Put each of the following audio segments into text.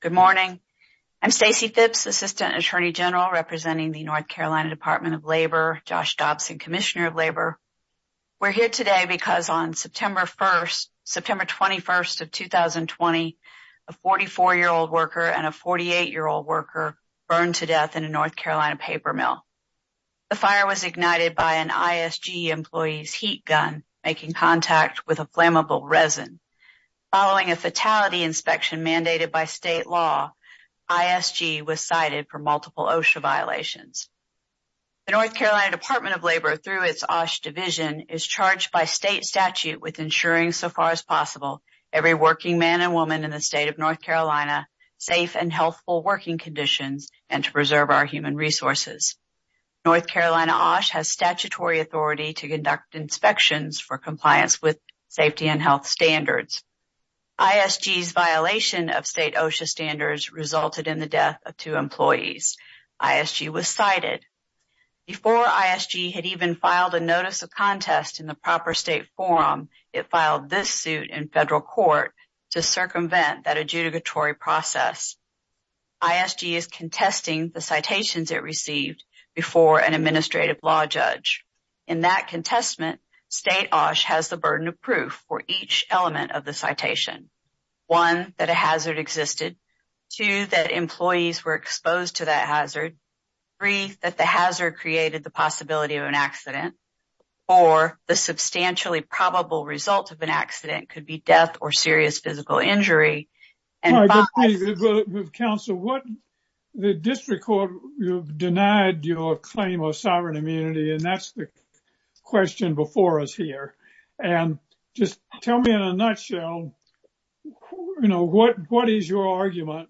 Good morning. I'm Stacey Phipps, Assistant Attorney General representing the North Carolina Department of Labor, Josh Dobson, Commissioner of Labor. We're here today because on September 1st, September 21st of 2020, a 44-year-old worker and a 48-year-old worker burned to death in a North Carolina paper mill. The fire was ignited by an ISG employee's heat gun making contact with a flammable resin. Following a fatality inspection mandated by state law, ISG was cited for multiple OSHA violations. The North Carolina Department of Labor, through its OSH Division, is charged by state statute with ensuring, so far as possible, every working man and woman in the state of North Carolina safe and healthful working conditions and to preserve our human resources. North Carolina OSH has statutory authority to conduct inspections for compliance with safety and health standards. ISG's violation of state OSHA standards resulted in the death of two employees. ISG was cited. Before ISG had even filed a notice of contest in the proper state forum, it filed this suit in federal court to circumvent that adjudicatory process. ISG is contesting the citations it received before an administrative law judge. In that citation, one, that a hazard existed. Two, that employees were exposed to that hazard. Three, that the hazard created the possibility of an accident. Four, the substantially probable result of an accident could be death or serious physical injury. But counsel, the district court denied your claim of sovereign immunity and that's the nutshell. What is your argument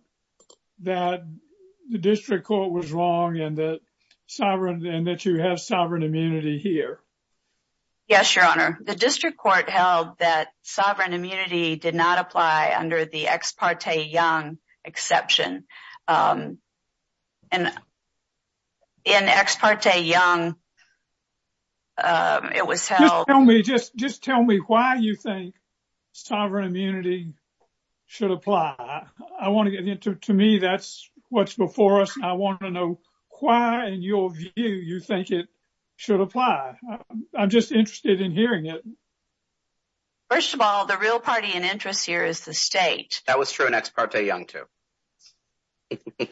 that the district court was wrong and that you have sovereign immunity here? Yes, your honor. The district court held that sovereign immunity did not apply under the Ex parte Young exception. In Ex parte Young, it was held... Just tell me why you think sovereign immunity should apply. I want to get into... To me, that's what's before us. I want to know why, in your view, you think it should apply. I'm just interested in hearing it. First of all, the real party in interest here is the state. That was true in Ex parte Young too. Okay.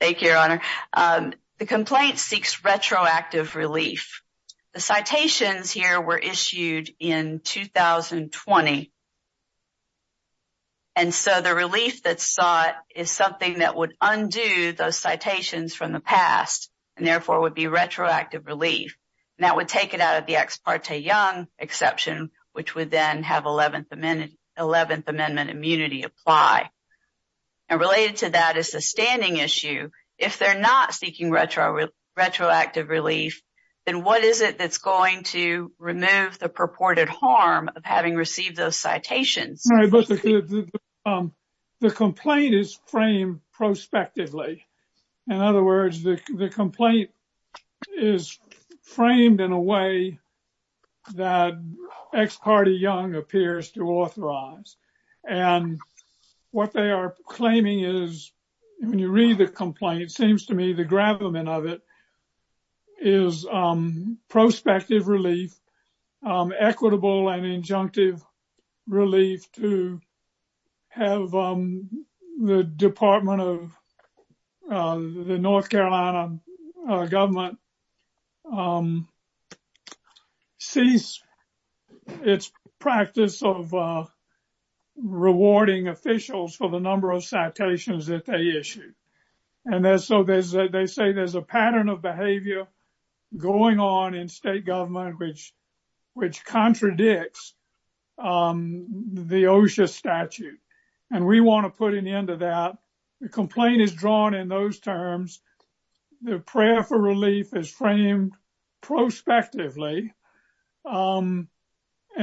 Thank you, your honor. The complaint seeks retroactive relief. The citations here were issued in 2020. And so the relief that's sought is something that would undo those citations from the past and therefore would be retroactive relief. And that would take it out of the Ex parte Young exception, which would then have 11th Amendment immunity apply. And related to that is the standing issue. If they're not seeking retroactive relief, then what is it that's going to remove the purported harm of having received those citations? The complaint is framed prospectively. In other words, the complaint is framed in a way that Ex parte Young appears to authorize. And what they are claiming is, when you read the complaint, it seems to me the gravamen of it is prospective relief, equitable and injunctive relief to have the Department of the North Carolina government cease its practice of rewarding officials for the number of citations that they issue. And so they say there's a pattern of behavior going on in state government which contradicts the OSHA statute. And we want to put an end to that. The complaint is drawn in those terms. The prayer for relief is framed prospectively. And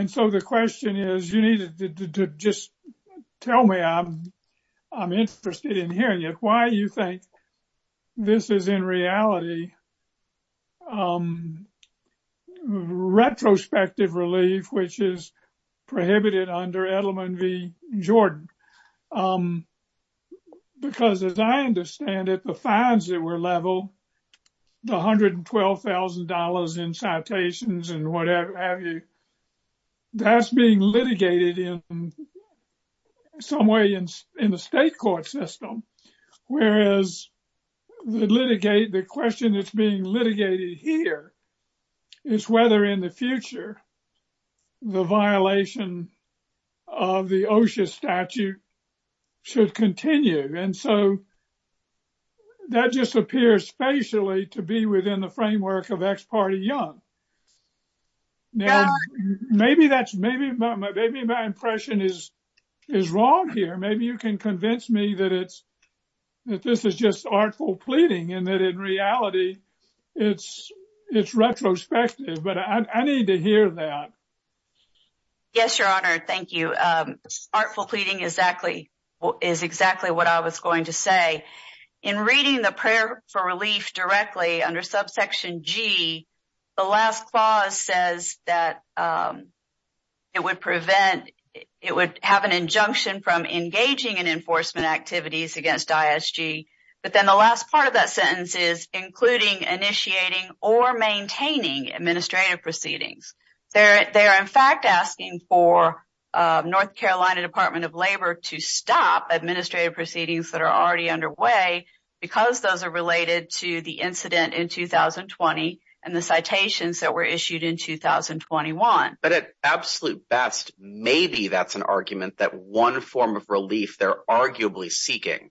so the question is, you need to just tell me, I'm interested in hearing it, why you think this is in reality retrospective relief, which is prohibited under Edelman v. Jordan? Because as I understand it, the fines that were leveled, the $112,000 in citations and what have you, that's being litigated in some way in the state court system. Whereas the question that's litigated here is whether in the future the violation of the OSHA statute should continue. And so that just appears spatially to be within the framework of ex parte young. Now, maybe my impression is wrong here. Maybe you can convince me that this is just artful pleading and that in reality it's retrospective. But I need to hear that. Yes, your honor. Thank you. Artful pleading is exactly what I was going to say. In reading the prayer for relief directly under subsection G, the last clause says that it would have an including initiating or maintaining administrative proceedings. They are in fact asking for North Carolina Department of Labor to stop administrative proceedings that are already underway because those are related to the incident in 2020 and the citations that were issued in 2021. But at absolute best, maybe that's an argument that one form of relief they're arguably seeking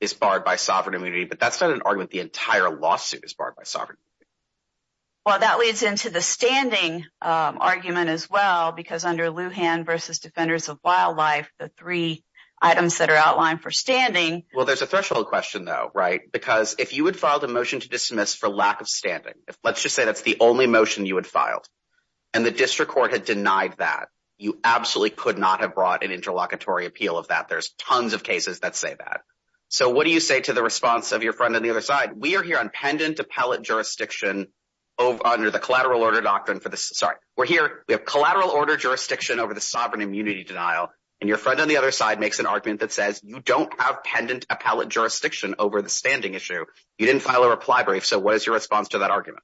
is barred by sovereign immunity. But that's not an argument the entire lawsuit is barred by sovereign. Well, that leads into the standing argument as well, because under Lujan versus Defenders of Wildlife, the three items that are outlined for standing. Well, there's a threshold question though, right? Because if you had filed a motion to dismiss for lack of standing, if let's just say that's the only motion you had filed and the district court had denied that, you absolutely could not have brought an interlocutory appeal of that. There's tons of cases that say that. So what do you say to the response of your friend on the other side? We are here on pendant appellate jurisdiction under the collateral order doctrine for this. Sorry, we're here. We have collateral order jurisdiction over the sovereign immunity denial and your friend on the other side makes an argument that says you don't have pendant appellate jurisdiction over the standing issue. You didn't file a reply brief. So what is your response to that argument?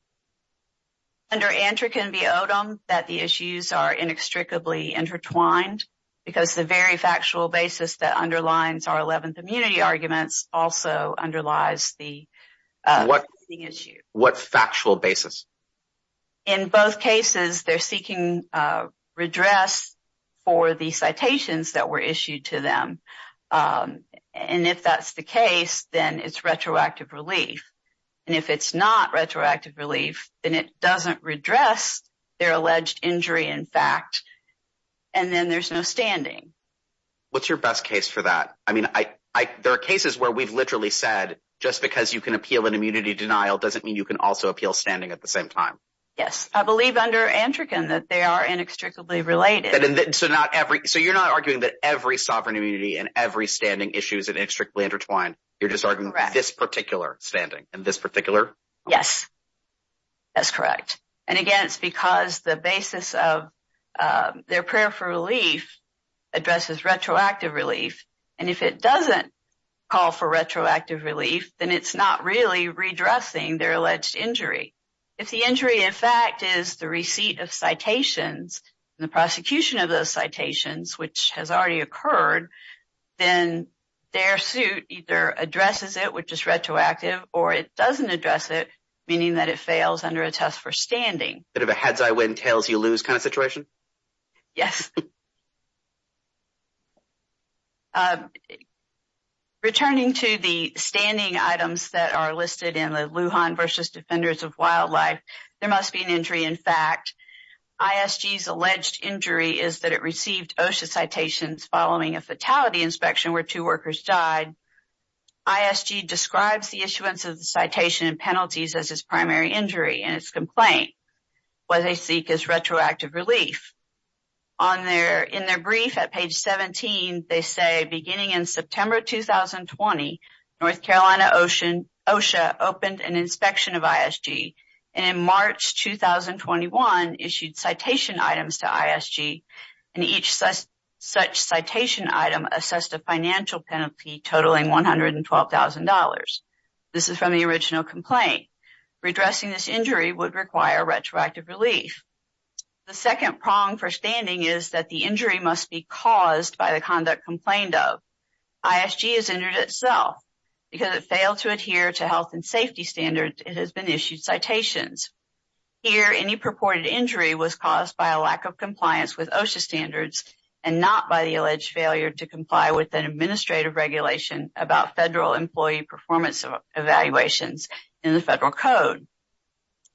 The answer can be that the issues are inextricably intertwined because the very factual basis that underlines our 11th immunity arguments also underlies the standing issue. What factual basis? In both cases, they're seeking redress for the citations that were and it doesn't redress their alleged injury in fact and then there's no standing. What's your best case for that? I mean, there are cases where we've literally said just because you can appeal an immunity denial doesn't mean you can also appeal standing at the same time. Yes, I believe under Antrican that they are inextricably related. So you're not arguing that every sovereign immunity and every standing issue is inextricably intertwined. You're arguing this particular standing and this particular? Yes, that's correct. And again, it's because the basis of their prayer for relief addresses retroactive relief and if it doesn't call for retroactive relief then it's not really redressing their alleged injury. If the injury in fact is the receipt of citations and the prosecution of those citations which has already occurred then their suit either addresses it which is retroactive or it doesn't address it, meaning that it fails under a test for standing. A bit of a heads-I-win-tails-you-lose kind of situation? Yes. Returning to the standing items that are listed in the Lujan versus Defenders of Wildlife, there must be an injury in fact. ISG's alleged injury is that it received OSHA citations following a fatality inspection where two workers died. ISG describes the issuance of the citation and penalties as its primary injury and its complaint. What they seek is retroactive relief. In their brief at page 17, they say beginning in September 2020, North Carolina OSHA opened an inspection of ISG and in March 2021 issued citation items to ISG and each such citation item assessed a financial penalty totaling $112,000. This is from the original complaint. Redressing this injury would require retroactive relief. The second prong for standing is that the adhere to health and safety standards, it has been issued citations. Here any purported injury was caused by a lack of compliance with OSHA standards and not by the alleged failure to comply with an administrative regulation about federal employee performance evaluations in the federal code.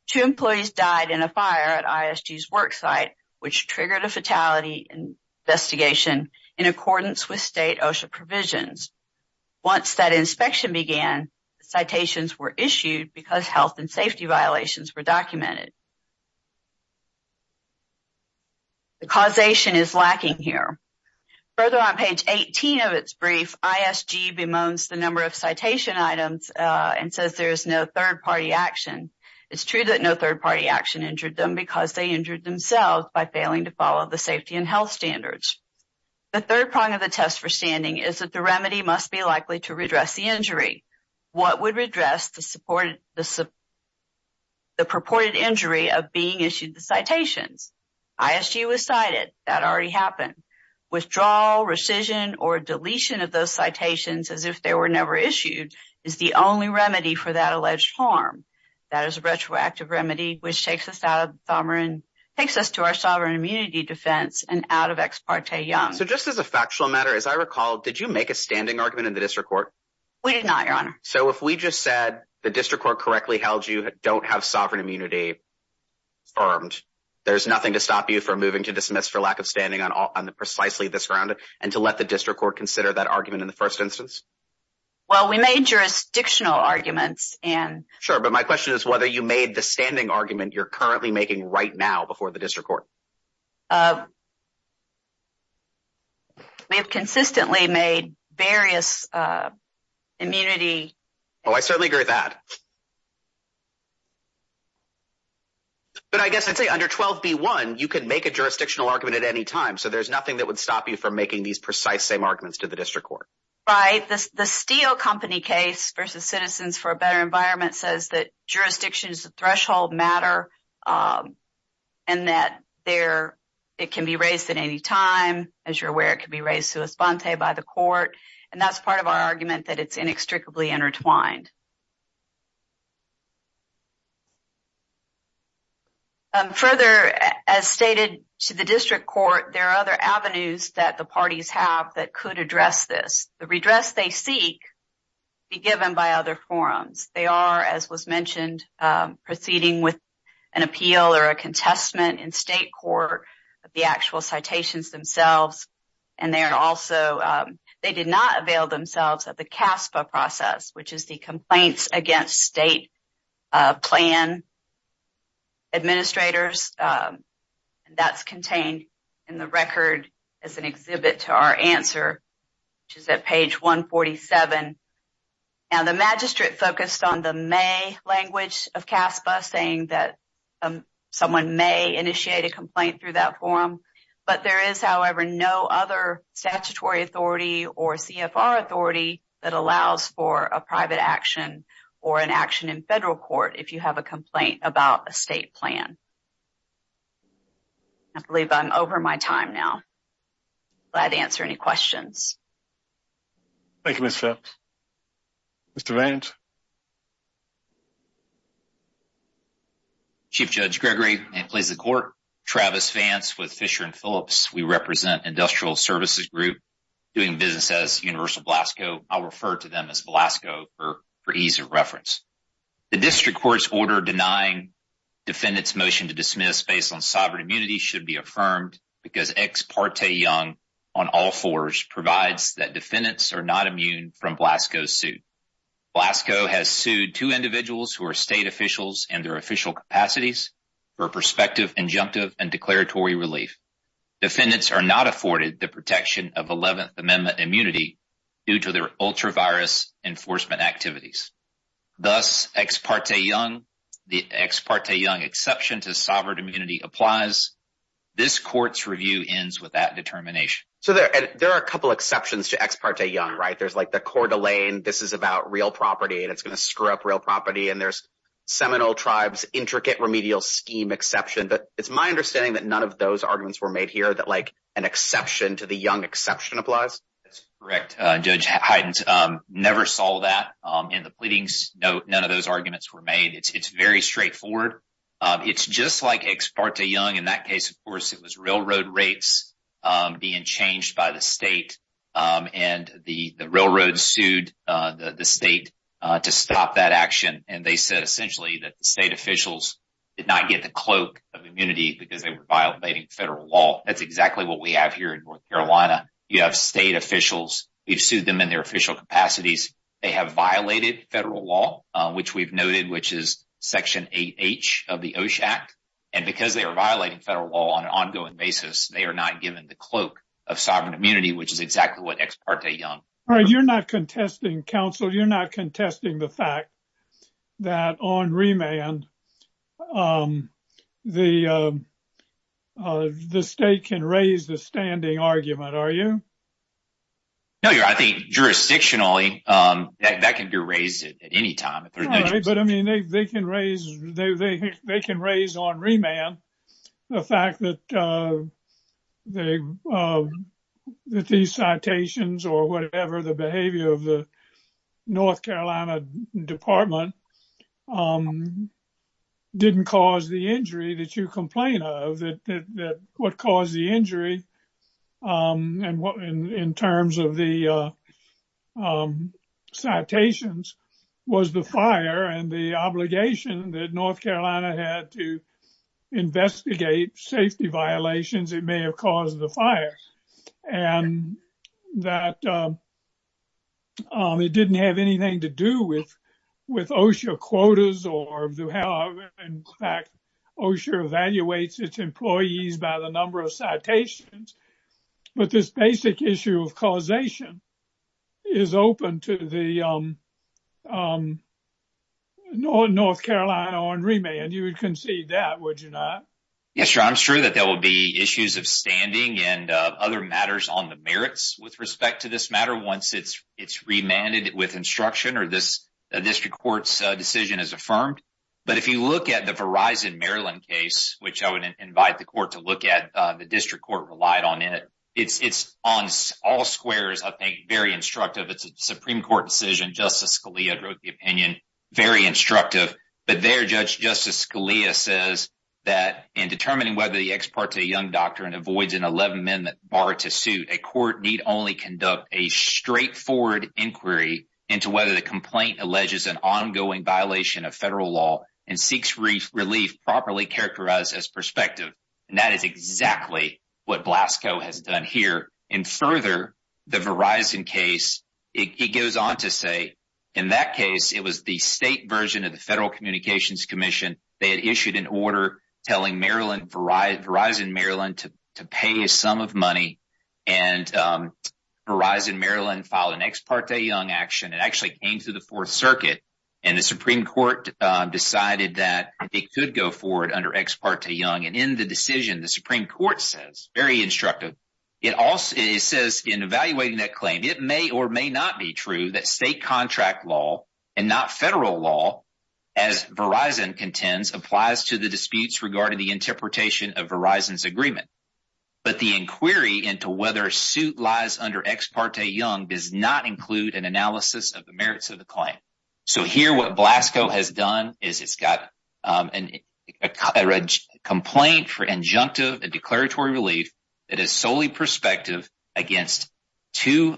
Two employees died in a fire at ISG's work site which triggered a fatality investigation in accordance with state OSHA provisions. Once that inspection began, citations were issued because health and safety violations were documented. The causation is lacking here. Further on page 18 of its brief, ISG bemoans the number of citation items and says there is no third-party action. It's true that no third-party action because they injured themselves by failing to follow the safety and health standards. The third prong of the test for standing is that the remedy must be likely to redress the injury. What would redress the purported injury of being issued the citations? ISG was cited, that already happened. Withdrawal, rescission or deletion of those citations as if they were never issued is the only remedy for that alleged harm. That is a retroactive remedy which takes us to our sovereign immunity defense. Did you make a standing argument in the district court? We did not, your honor. If we just said the district court correctly held you don't have sovereign immunity, there's nothing to stop you from moving to dismiss for lack of standing on precisely this ground and to let the district court consider that argument in the first instance? We made jurisdictional arguments. My question is whether you made the standing argument you're currently making right now before the district court. We have consistently made various immunity. Oh, I certainly agree with that. But I guess I'd say under 12b1 you can make a jurisdictional argument at any time so there's nothing that would stop you from making these precise same arguments to the district court. Right, the steel company case versus citizens for a better environment says that jurisdiction is a threshold matter and that it can be raised at any time. As you're aware, it can be raised sui sponte by the court and that's part of our argument that it's inextricably intertwined. Further, as stated to the district court, there are other avenues that the parties have that could address this. The redress they seek be given by other forums. They are, as was mentioned, proceeding with an appeal or a contestment in state court of the actual citations themselves. They did not avail themselves of the CASPA process, which is the Complaints Against State Plan Administrators. That's contained in the record as an exhibit to our answer, which is at page 147. Now, the magistrate focused on the may language of CASPA saying that someone may initiate a complaint through that forum, but there is, however, no other statutory authority or CFR authority that allows for a private action or an action in federal court if you have a complaint about a state plan. I believe I'm over my time now. Glad to answer any questions. Thank you, Ms. Phelps. Mr. Vance. Chief Judge Gregory, and please the court, Travis Vance with Fisher & Phillips. We represent Industrial Services Group doing business as Universal Blasco. I'll refer to them as Blasco for ease of reference. The district court's order denying defendants' motion to dismiss based on sovereign immunity should be affirmed because ex parte young on all fours provides that defendants are not immune from Blasco's suit. Blasco has sued two individuals who are state officials and their official capacities for prospective, injunctive, and declaratory relief. Defendants are not afforded the protection of 11th Amendment immunity due to their ultra-virus enforcement activities. Thus, ex parte young, the ex parte young exception to sovereign immunity applies. This court's review ends with that determination. So there are a couple exceptions to ex parte young, right? There's like the Coeur d'Alene, this is about real property and it's going to screw up real property, and there's Seminole Tribes' intricate remedial scheme exception, but it's my understanding that none of those arguments were made here, that like an exception to the young exception applies? That's correct, Judge Hydens. Never saw that in the pleadings. No, none of those arguments were made. It's very straightforward. It's just like ex parte young. In that case, of course, it was railroad rates being changed by the state and the railroad sued the state to stop that action and they said essentially that the state officials did not get the cloak of immunity because they were violating federal law. That's exactly what we have here in North Carolina. You have state officials. We've sued them in their official capacities. They have violated federal law, which we've noted, which is Section 8H of the OSHA Act. And because they are violating federal law on an ongoing basis, they are not given the cloak of sovereign immunity, which is exactly what ex parte young. All right. You're not contesting, counsel. You're not contesting the fact that on remand, the state can raise the standing argument, are you? No, I think jurisdictionally that can be raised at any time. All right. But I mean, they can raise on remand the fact that these citations or whatever the behavior of the North Carolina Department didn't cause the injury that you complain of. What caused the injury in terms of the citations was the fire and the obligation that North Carolina had to investigate safety violations that may have caused the fire. And that it didn't have anything to do with OSHA quotas. In fact, OSHA evaluates its employees by the number of citations. But this basic issue of causation is open to the North Carolina on remand. You would concede that, would you not? Yes, sir. I'm sure that there will be issues of standing and other matters on the merits with respect to this matter once it's remanded with instruction or this district court's decision is affirmed. But if you look at the Verizon Maryland case, which I would invite the court to look at, the district court relied on it. It's on all squares, I think, very instructive. It's a Supreme Court decision. Justice Scalia wrote the opinion. Very instructive. But their judge, Justice Scalia, says that in determining whether the ex parte young doctrine avoids an 11 minute bar to suit, a court need only conduct a straightforward inquiry into whether the complaint alleges an ongoing violation of federal law and seeks relief properly characterized as and that is exactly what Blasco has done here. And further, the Verizon case, it goes on to say, in that case, it was the state version of the Federal Communications Commission. They had issued an order telling Verizon Maryland to pay a sum of money. And Verizon Maryland filed an ex parte young action. It actually came through the Fourth Circuit. And the Supreme Court decided that it could go forward under ex parte young. And in the decision, the Supreme Court says, very instructive. It also says in evaluating that claim, it may or may not be true that state contract law and not federal law, as Verizon contends, applies to the disputes regarding the interpretation of Verizon's agreement. But the inquiry into whether suit lies under ex parte young does not include an analysis of the merits of the claim. So here, what Blasco has done is it's got a complaint for injunctive declaratory relief that is solely prospective against two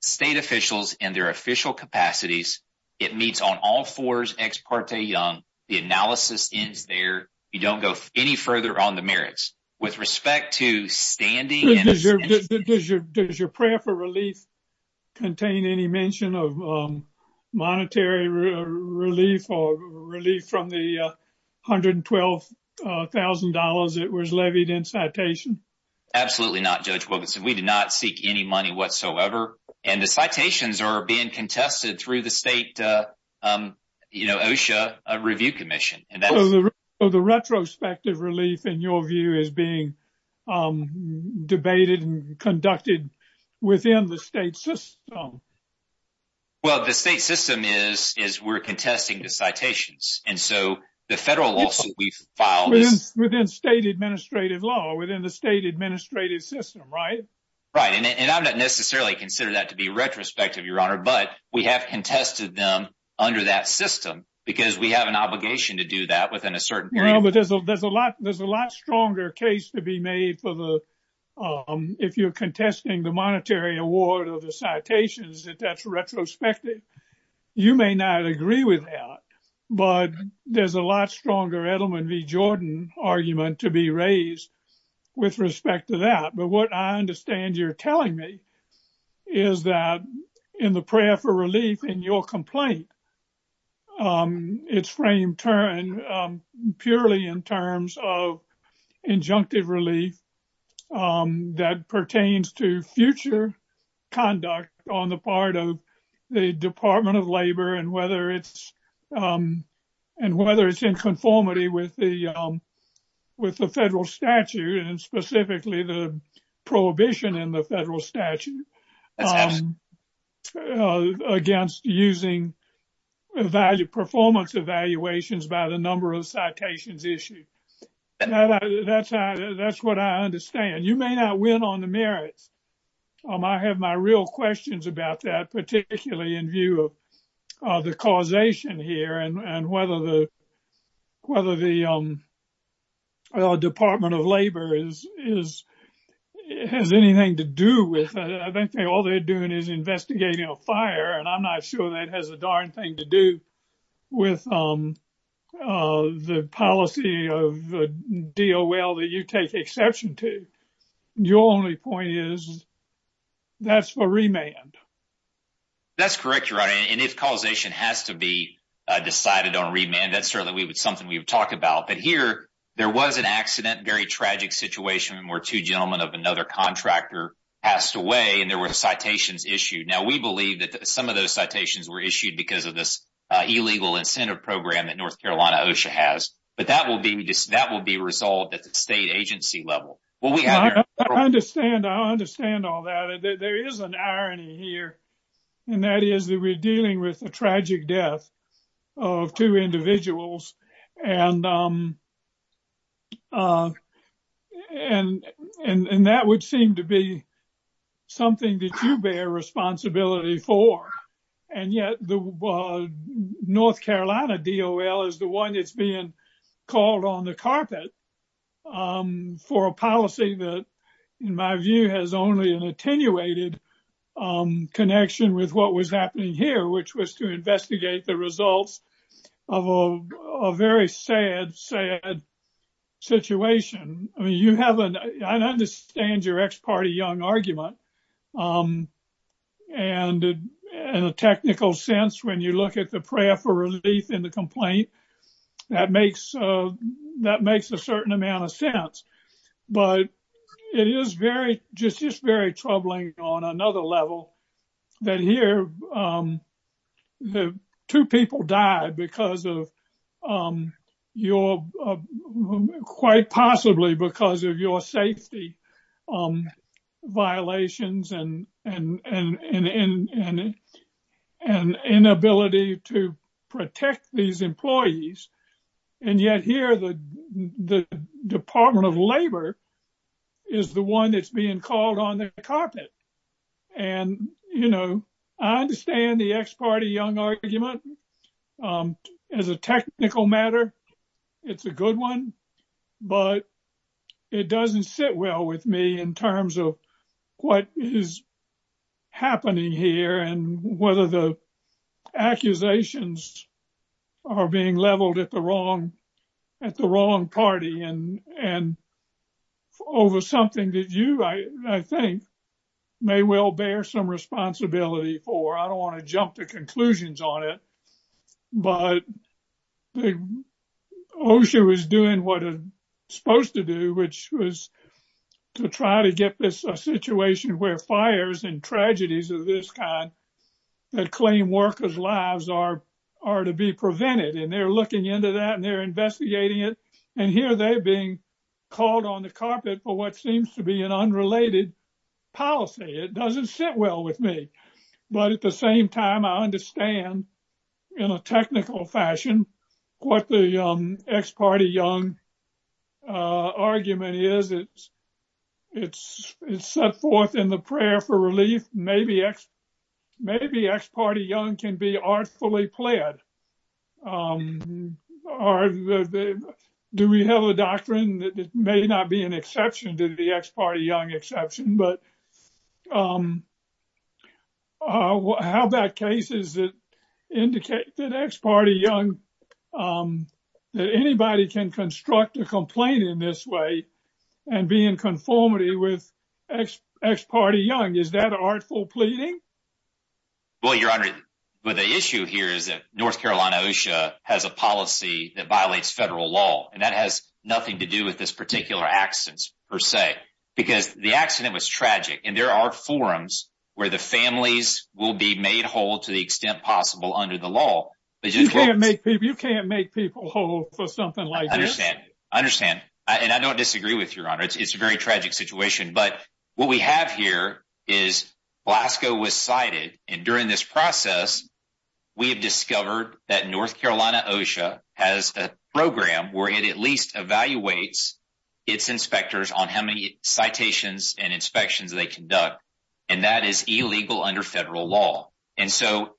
state officials and their official capacities. It meets on all fours ex parte young. The analysis ends there. You don't go any further on the merits. With respect to standing... Does your prayer for relief contain any mention of monetary relief or relief from the $112,000 that was levied in citation? Absolutely not, Judge Wilkinson. We did not seek any money whatsoever. And the citations are being contested through the state OSHA review commission. The retrospective relief, in your view, is being debated and conducted within the state system? Well, the state system is we're contesting the citations. And so the federal lawsuit we've filed... Within state administrative law, within the state administrative system, right? Right. And I'm not necessarily considering that to be retrospective, Your Honor, but we have contested them under that system because we have an obligation to do that within a certain period of time. Well, but there's a lot stronger case to be made for the... If you're contesting the monetary award or the citations, that that's retrospective. You may not agree with that, but there's a lot stronger Edelman v. Jordan argument to be raised with respect to that. What I understand you're telling me is that in the prayer for relief in your complaint, it's framed purely in terms of injunctive relief that pertains to future conduct on the part of the Department of Labor and whether it's in conformity with the federal statute and specifically the prohibition in the federal statute against using performance evaluations by the number of citations issued. That's what I understand. You may not win on the merits. I have my real questions about that, particularly in view of the causation here and whether the Department of Labor has anything to do with it. I think all they're doing is investigating a fire and I'm not sure that has a darn thing to do with the policy of DOL that you take exception to. Your only point is that's for remand. That's correct, Your Honor, and if causation has to be talked about. There was an accident, a very tragic situation where two gentlemen of another contractor passed away and there were citations issued. We believe that some of those citations were issued because of this illegal incentive program that North Carolina OSHA has, but that will be resolved at the state agency level. I understand all that. There is an irony here, and that is that we're dealing with a tragic death of two individuals. That would seem to be something that you bear responsibility for, and yet the North Carolina DOL is the one that's being called on the carpet for a policy that, in my view, has only an attenuated connection with what was happening here, which was to investigate the results of a very sad, sad situation. I understand your ex-party young argument. In a technical sense, when you look at the prayer for relief in the certain amount of sense, but it is just very troubling on another level that here the two people died quite possibly because of your safety violations and inability to respond. The Department of Labor is the one that's being called on the carpet. I understand the ex-party young argument. As a technical matter, it's a good one, but it doesn't sit well with me in terms of what is happening here and whether the and over something that you, I think, may well bear some responsibility for. I don't want to jump to conclusions on it, but OSHA was doing what it's supposed to do, which was to try to get this situation where fires and tragedies of this kind that claim workers' lives are to be prevented. They're looking into that, and they're investigating it, and here they're being called on the carpet for what seems to be an unrelated policy. It doesn't sit well with me, but at the same time, I understand in a technical fashion what the ex-party young argument is. It's set forth in the prayer for relief. Maybe ex-party young can be artfully pled. Do we have a doctrine that may not be an exception to the ex-party young exception, but how about cases that indicate that anybody can construct a complaint in this way and be in conformity with ex-party young? Is that artful pleading? Well, Your Honor, the issue here is that North Carolina OSHA has a policy that violates federal law, and that has nothing to do with this particular accident per se, because the accident was tragic, and there are forums where the families will be made whole to the extent possible under the law. You can't make people whole for something like this. I understand, and I don't disagree with Your Honor. It's a very tragic situation, but what we have here is Glasgow was cited, and during this process, we have discovered that North Carolina OSHA has a program where it at least evaluates its inspectors on how many citations and inspections they conduct, and that is illegal under federal law. That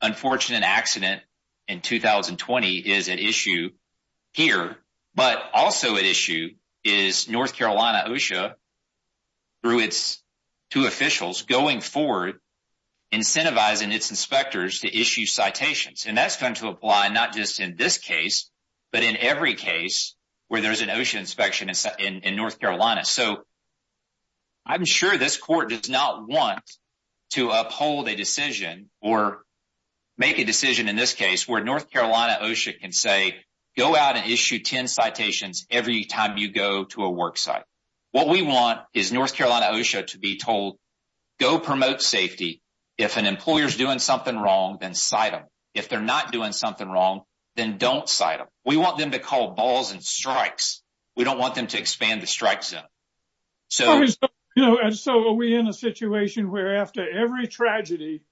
unfortunate accident in 2020 is at issue here, but also at issue is North Carolina OSHA, through its two officials, going forward incentivizing its inspectors to issue citations. That's going to apply not just in this case, but in every case where there's an OSHA inspection in North Carolina. I'm sure this Court does not want to uphold a decision or make a decision in this case where North Carolina OSHA can say, go out and issue 10 citations every time you go to a work site. What we want is North Carolina OSHA to be told, go promote safety. If an employer is doing something wrong, then cite them. If they're not doing something wrong, then don't cite them. We want them to call balls and strikes. We don't want them to expand the strike zone. So are we in a situation where after every tragedy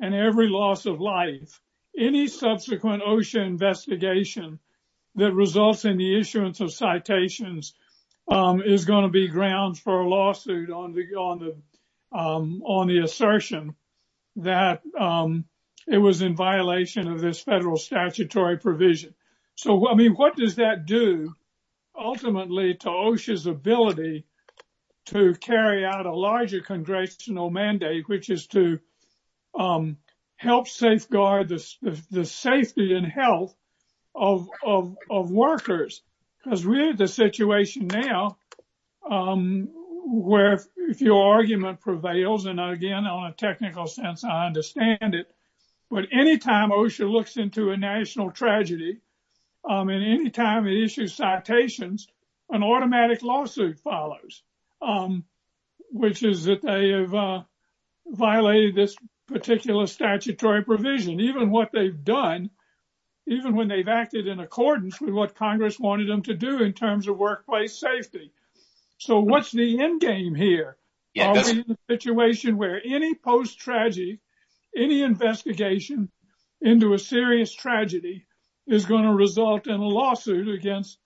and every loss of life, any subsequent OSHA investigation that results in the issuance of citations is going to be grounds for a lawsuit on the assertion that it was in violation of this federal statutory provision? So what does that do ultimately to OSHA's ability to carry out a larger congressional mandate, which is to help safeguard the safety and health of workers? Because we're in the situation now where if your argument prevails, and again, on a technical sense, I understand it. But any time OSHA looks into a national tragedy, and any time it issues citations, an automatic lawsuit follows, which is that they have violated this particular statutory provision, even what they've done, even when they've acted in accordance with what Congress wanted them to do in terms of workplace safety. So what's the endgame here? Are we in a situation where any tragedy, any investigation into a serious tragedy is going to result in a lawsuit against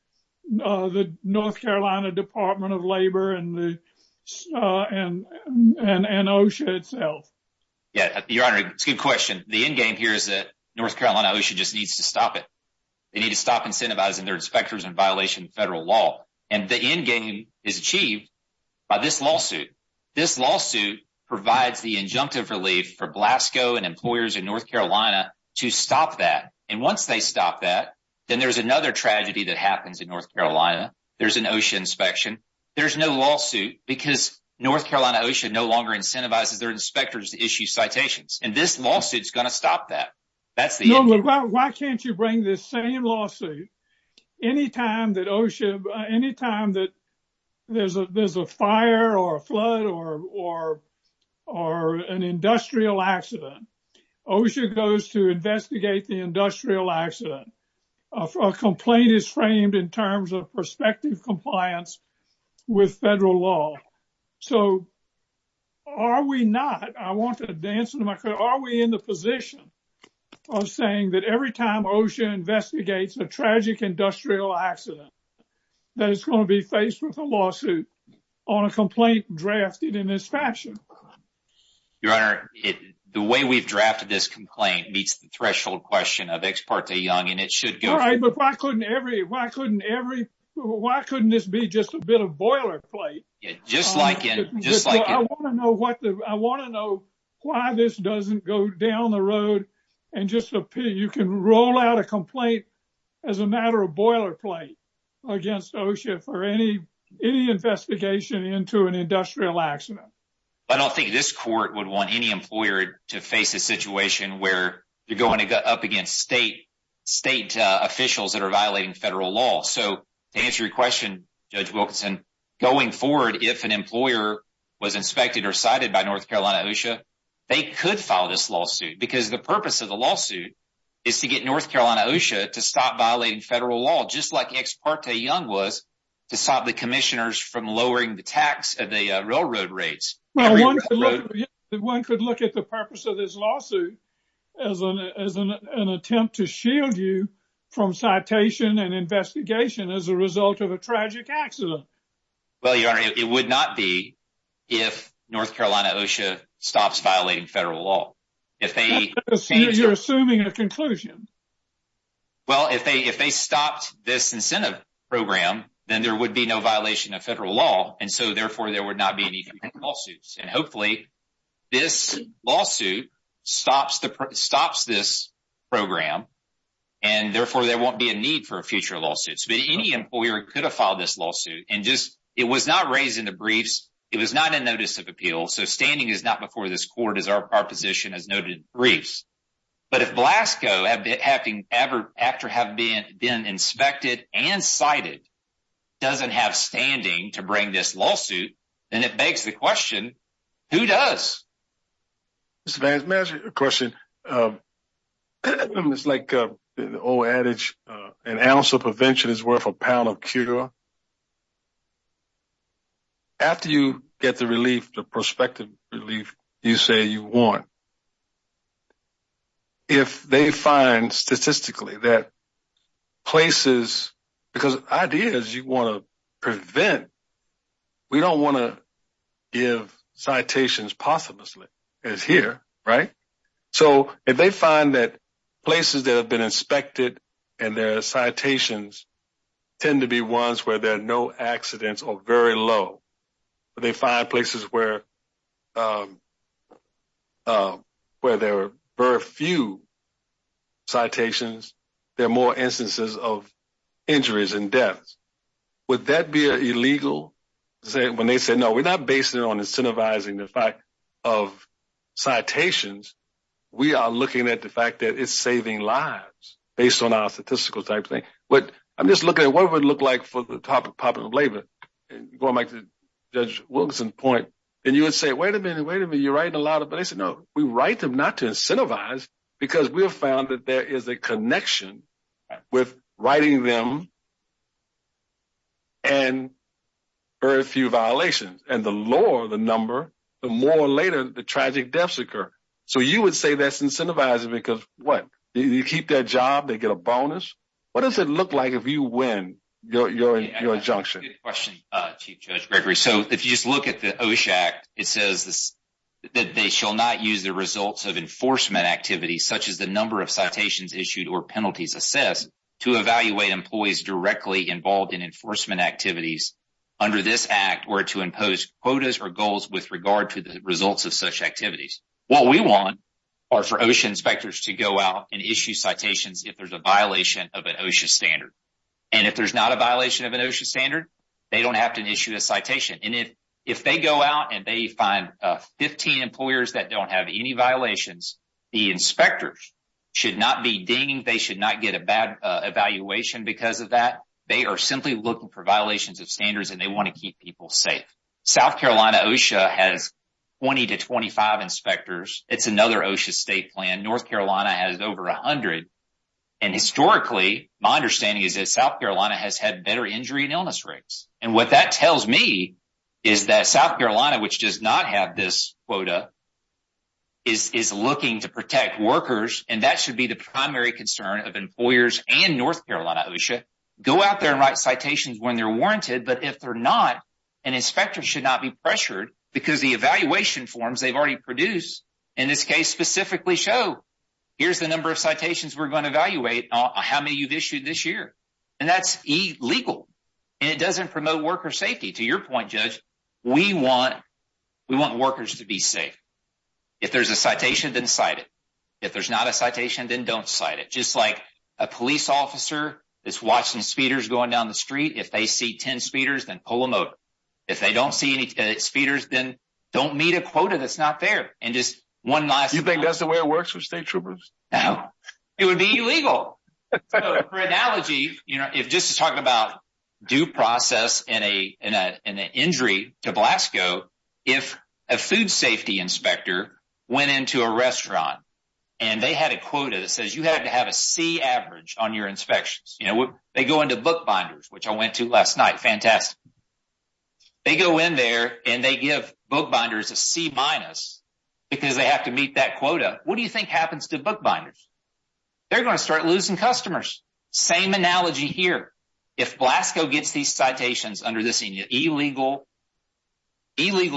the North Carolina Department of Labor and OSHA itself? Yeah, Your Honor, it's a good question. The endgame here is that North Carolina OSHA just needs to stop it. They need to stop incentivizing their inspectors in violation of federal law. The endgame is achieved by this lawsuit. This lawsuit provides the injunctive relief for Blasco and employers in North Carolina to stop that. Once they stop that, then there's another tragedy that happens in North Carolina. There's an OSHA inspection. There's no lawsuit because North Carolina OSHA no longer incentivizes their inspectors to issue citations. This lawsuit is going to stop that. That's the endgame. No, but why can't you bring this same lawsuit any time that OSHA, any time that there's a fire or a flood or an industrial accident, OSHA goes to investigate the industrial accident. A complaint is framed in terms of prospective compliance with federal law. So are we not, I want to advance, are we in the position of saying that every time OSHA investigates a tragic industrial accident, that it's going to be faced with a lawsuit on a complaint drafted in this fashion? Your Honor, the way we've drafted this complaint meets the threshold question of Ex parte Young, and it should go. All right, but why couldn't every, why couldn't every, why couldn't this be just a bit of boilerplate? Yeah, just like it, just like it. I want to know I want to know why this doesn't go down the road and just appear, you can roll out a complaint as a matter of boilerplate against OSHA for any investigation into an industrial accident. I don't think this court would want any employer to face a situation where you're going to go up against state officials that are violating federal law. So to answer your question, Judge Wilkinson, going forward, if an employer was inspected or cited by North Carolina OSHA, they could file this lawsuit because the purpose of the lawsuit is to get North Carolina OSHA to stop violating federal law, just like Ex parte Young was, to stop the commissioners from lowering the tax of the railroad rates. Well, one could look at the purpose of this lawsuit as an attempt to shield from citation and investigation as a result of a tragic accident. Well, Your Honor, it would not be if North Carolina OSHA stops violating federal law. You're assuming a conclusion. Well, if they stopped this incentive program, then there would be no violation of federal law, and so therefore there would not be any lawsuits. And hopefully this lawsuit stops this program, and therefore there won't be a need for future lawsuits. But any employer could have filed this lawsuit, and it was not raised in the briefs, it was not a notice of appeal, so standing is not before this court as our position has noted in the briefs. But if Blasco, after having been inspected and cited, doesn't have standing to Who does? Mr. Vance, may I ask you a question? It's like the old adage, an ounce of prevention is worth a pound of cure. After you get the relief, the prospective relief you say you want, if they find statistically that places, because ideas you want to prevent, we don't want to give citations posthumously, as here, right? So if they find that places that have been inspected and their citations tend to be ones where there are no accidents or very low, but they find places where there are very few citations, there are more instances of when they say, no, we're not basing it on incentivizing the fact of citations, we are looking at the fact that it's saving lives based on our statistical type thing. But I'm just looking at what it would look like for the topic of popular labor, and going back to Judge Wilkinson's point, and you would say, wait a minute, wait a minute, you're writing a lot of, but they said, no, we write them not to incentivize, because we have found that there is a connection with writing them and very few violations. And the lower the number, the more later the tragic deaths occur. So you would say that's incentivizing because, what, you keep their job, they get a bonus? What does it look like if you win your injunction? Good question, Chief Judge Gregory. So if you just look at the OSHA Act, it says that they shall not use the results of enforcement activities, such as the number of citations issued or penalties assessed, to evaluate employees directly involved in enforcement activities under this Act, or to impose quotas or goals with regard to the results of such activities. What we want are for OSHA inspectors to go out and issue citations if there's a violation of an OSHA standard. And if there's not a violation of an OSHA standard, they don't have to issue a citation. And if they go out and they find 15 employers that don't have any violations, the inspectors should not be dinged, they should not get a bad evaluation because of that. They are simply looking for violations of standards and they want to keep people safe. South Carolina OSHA has 20 to 25 inspectors. It's another OSHA state plan. North Carolina has over 100. And historically, my understanding is that South Carolina has had better injury and illness rates. And what that tells me is that South Carolina, which does not have this quota, is looking to protect workers. And that should be the primary concern of employers and North Carolina OSHA. Go out there and write citations when they're warranted. But if they're not, an inspector should not be pressured because the evaluation forms they've already produced, in this case, specifically show, here's the number of citations we're going to evaluate, how many you've issued this year. And that's illegal. And it doesn't promote worker safety. To your point, Judge, we want workers to be safe. If there's a citation, then cite it. If there's not a citation, then don't cite it. Just like a police officer is watching speeders going down the street. If they see 10 speeders, then pull them over. If they don't see any speeders, then don't meet a quota that's not there. And just one last... For analogy, just to talk about due process and an injury to Blasco, if a food safety inspector went into a restaurant and they had a quota that says you had to have a C average on your inspections. They go into book binders, which I went to last night. Fantastic. They go in there and they give book binders a C minus because they have to meet that quota. What do you think happens to book binders? They're going to start losing customers. Same analogy here. If Blasco gets these citations under this illegal program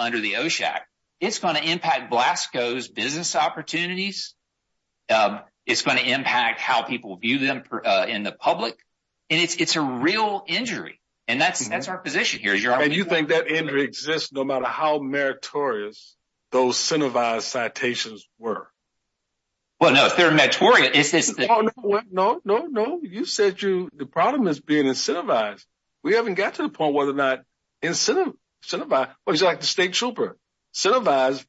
under the OSHAC, it's going to impact Blasco's business opportunities. It's going to impact how people view them in the public. And it's a real injury. And that's our position here. And you think that injury exists no matter how meritorious those incentivized citations were? Well, no. If they're meritorious, is this... No, no, no. You said the problem is being incentivized. We haven't got to the point whether or not incentivized. It's like the state trooper. Incentivized,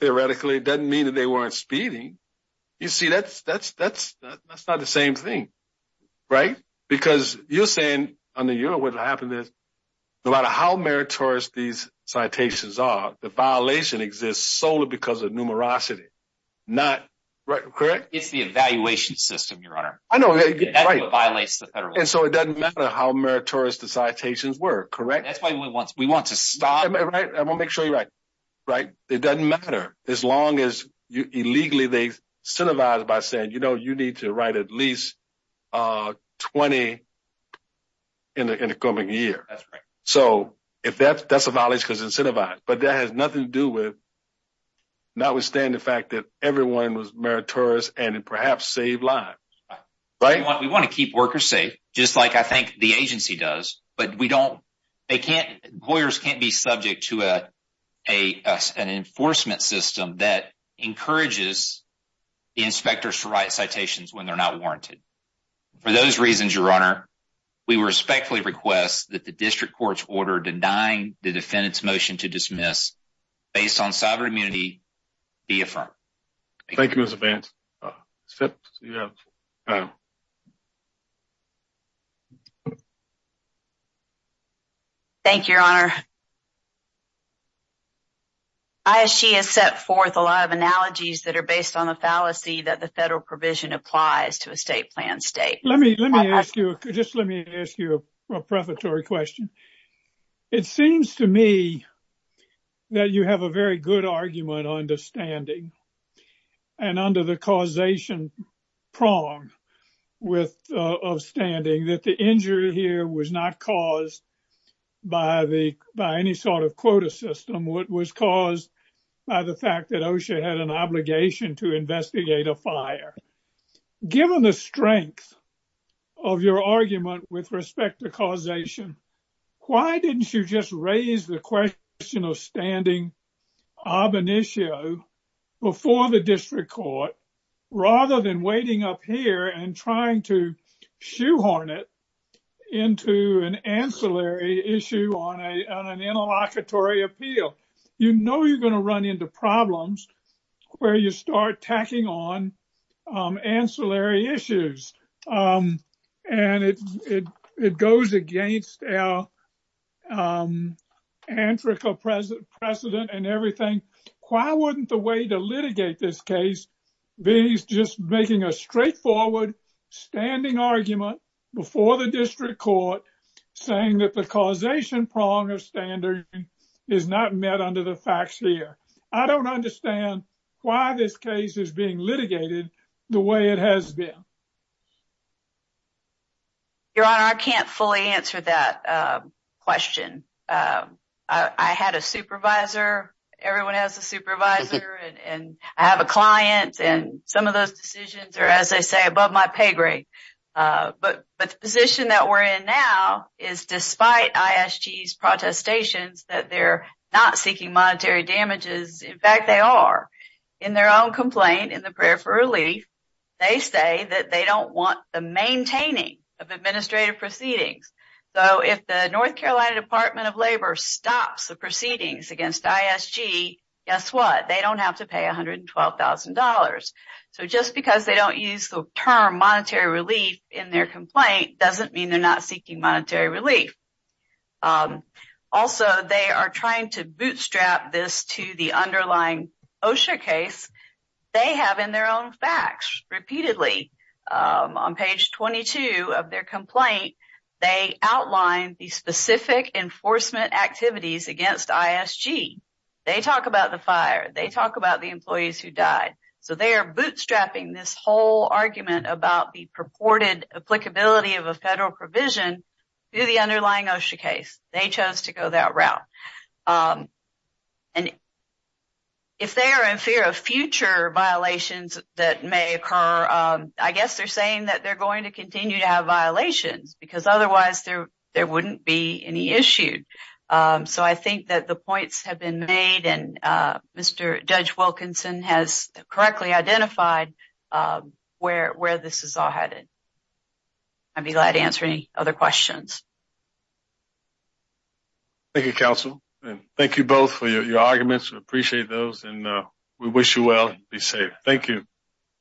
theoretically, doesn't mean that they weren't speeding. You see, that's not the same thing, right? Because you're saying, under you, what happened is, no matter how meritorious these citations are, the violation exists solely because of numerosity. Correct? It's the evaluation system, Your Honor. That's what violates the federal law. And so it doesn't matter how meritorious the citations were, correct? That's why we want to stop... I want to make sure you're right. It doesn't matter as long as illegally they incentivize by saying, you know, you need to write at least 20 in the coming year. That's right. So if that's a violation, it's because it's incentivized. But that has nothing to do with notwithstanding the fact that everyone was meritorious and perhaps saved lives, right? We want to keep workers safe, just like I think the agency does. But we don't... Lawyers can't be subject to an enforcement system that encourages inspectors to write citations when they're not warranted. For those reasons, Your Honor, we respectfully request that the district court's order denying the defendant's motion to dismiss based on sovereign immunity be affirmed. Thank you, Mr. Vance. Thank you, Your Honor. ISG has set forth a lot of analogies that are based on the fallacy that the federal provision applies to a state plan state. Let me ask you, just let me ask you a prefatory question. It seems to me that you have a very good argument on the standing and under the causation prong of standing that the injury here was not caused by any sort of quota system. It was caused by the fact that OSHA had an obligation to investigate a fire. Given the strength of your argument with respect to causation, why didn't you just raise the question of standing ab initio before the district court, rather than waiting up here and trying to shoehorn it into an ancillary issue on an interlocutory appeal? You know you're going to run into problems where you start tacking on um, antrical precedent and everything. Why wouldn't the way to litigate this case be just making a straightforward standing argument before the district court saying that the causation prong of standing is not met under the facts here? I don't understand why this case is being litigated the way it has been. Your honor, I can't fully answer that question. I had a supervisor, everyone has a supervisor, and I have a client and some of those decisions are as they say above my pay grade. But the position that we're in now is despite ISG's protestations that they're not seeking monetary damages, in fact they are. In their own complaint in the prayer for relief, they say that they don't want the maintaining of administrative proceedings. So if the North Carolina Department of Labor stops the proceedings against ISG, guess what? They don't have to pay $112,000. So just because they don't use the term monetary relief in their complaint doesn't mean they're not seeking monetary relief. Also they are trying to bootstrap this to the underlying OSHA case. They have in their own facts, repeatedly on page 22 of their complaint, they outline the specific enforcement activities against ISG. They talk about the fire, they talk about the employees who died. So they are bootstrapping this whole argument about the purported applicability of a federal provision through the underlying OSHA case. They chose to go that route. And if they are in fear of future violations that may occur, I guess they're saying that they're going to continue to have violations because otherwise there wouldn't be any issued. So I think that the points have been made and Mr. Judge Wilkinson has correctly identified where this is all headed. I'd be glad to answer any other questions. Thank you, counsel. Thank you both for your arguments. We appreciate those and we wish you well and be safe. Thank you.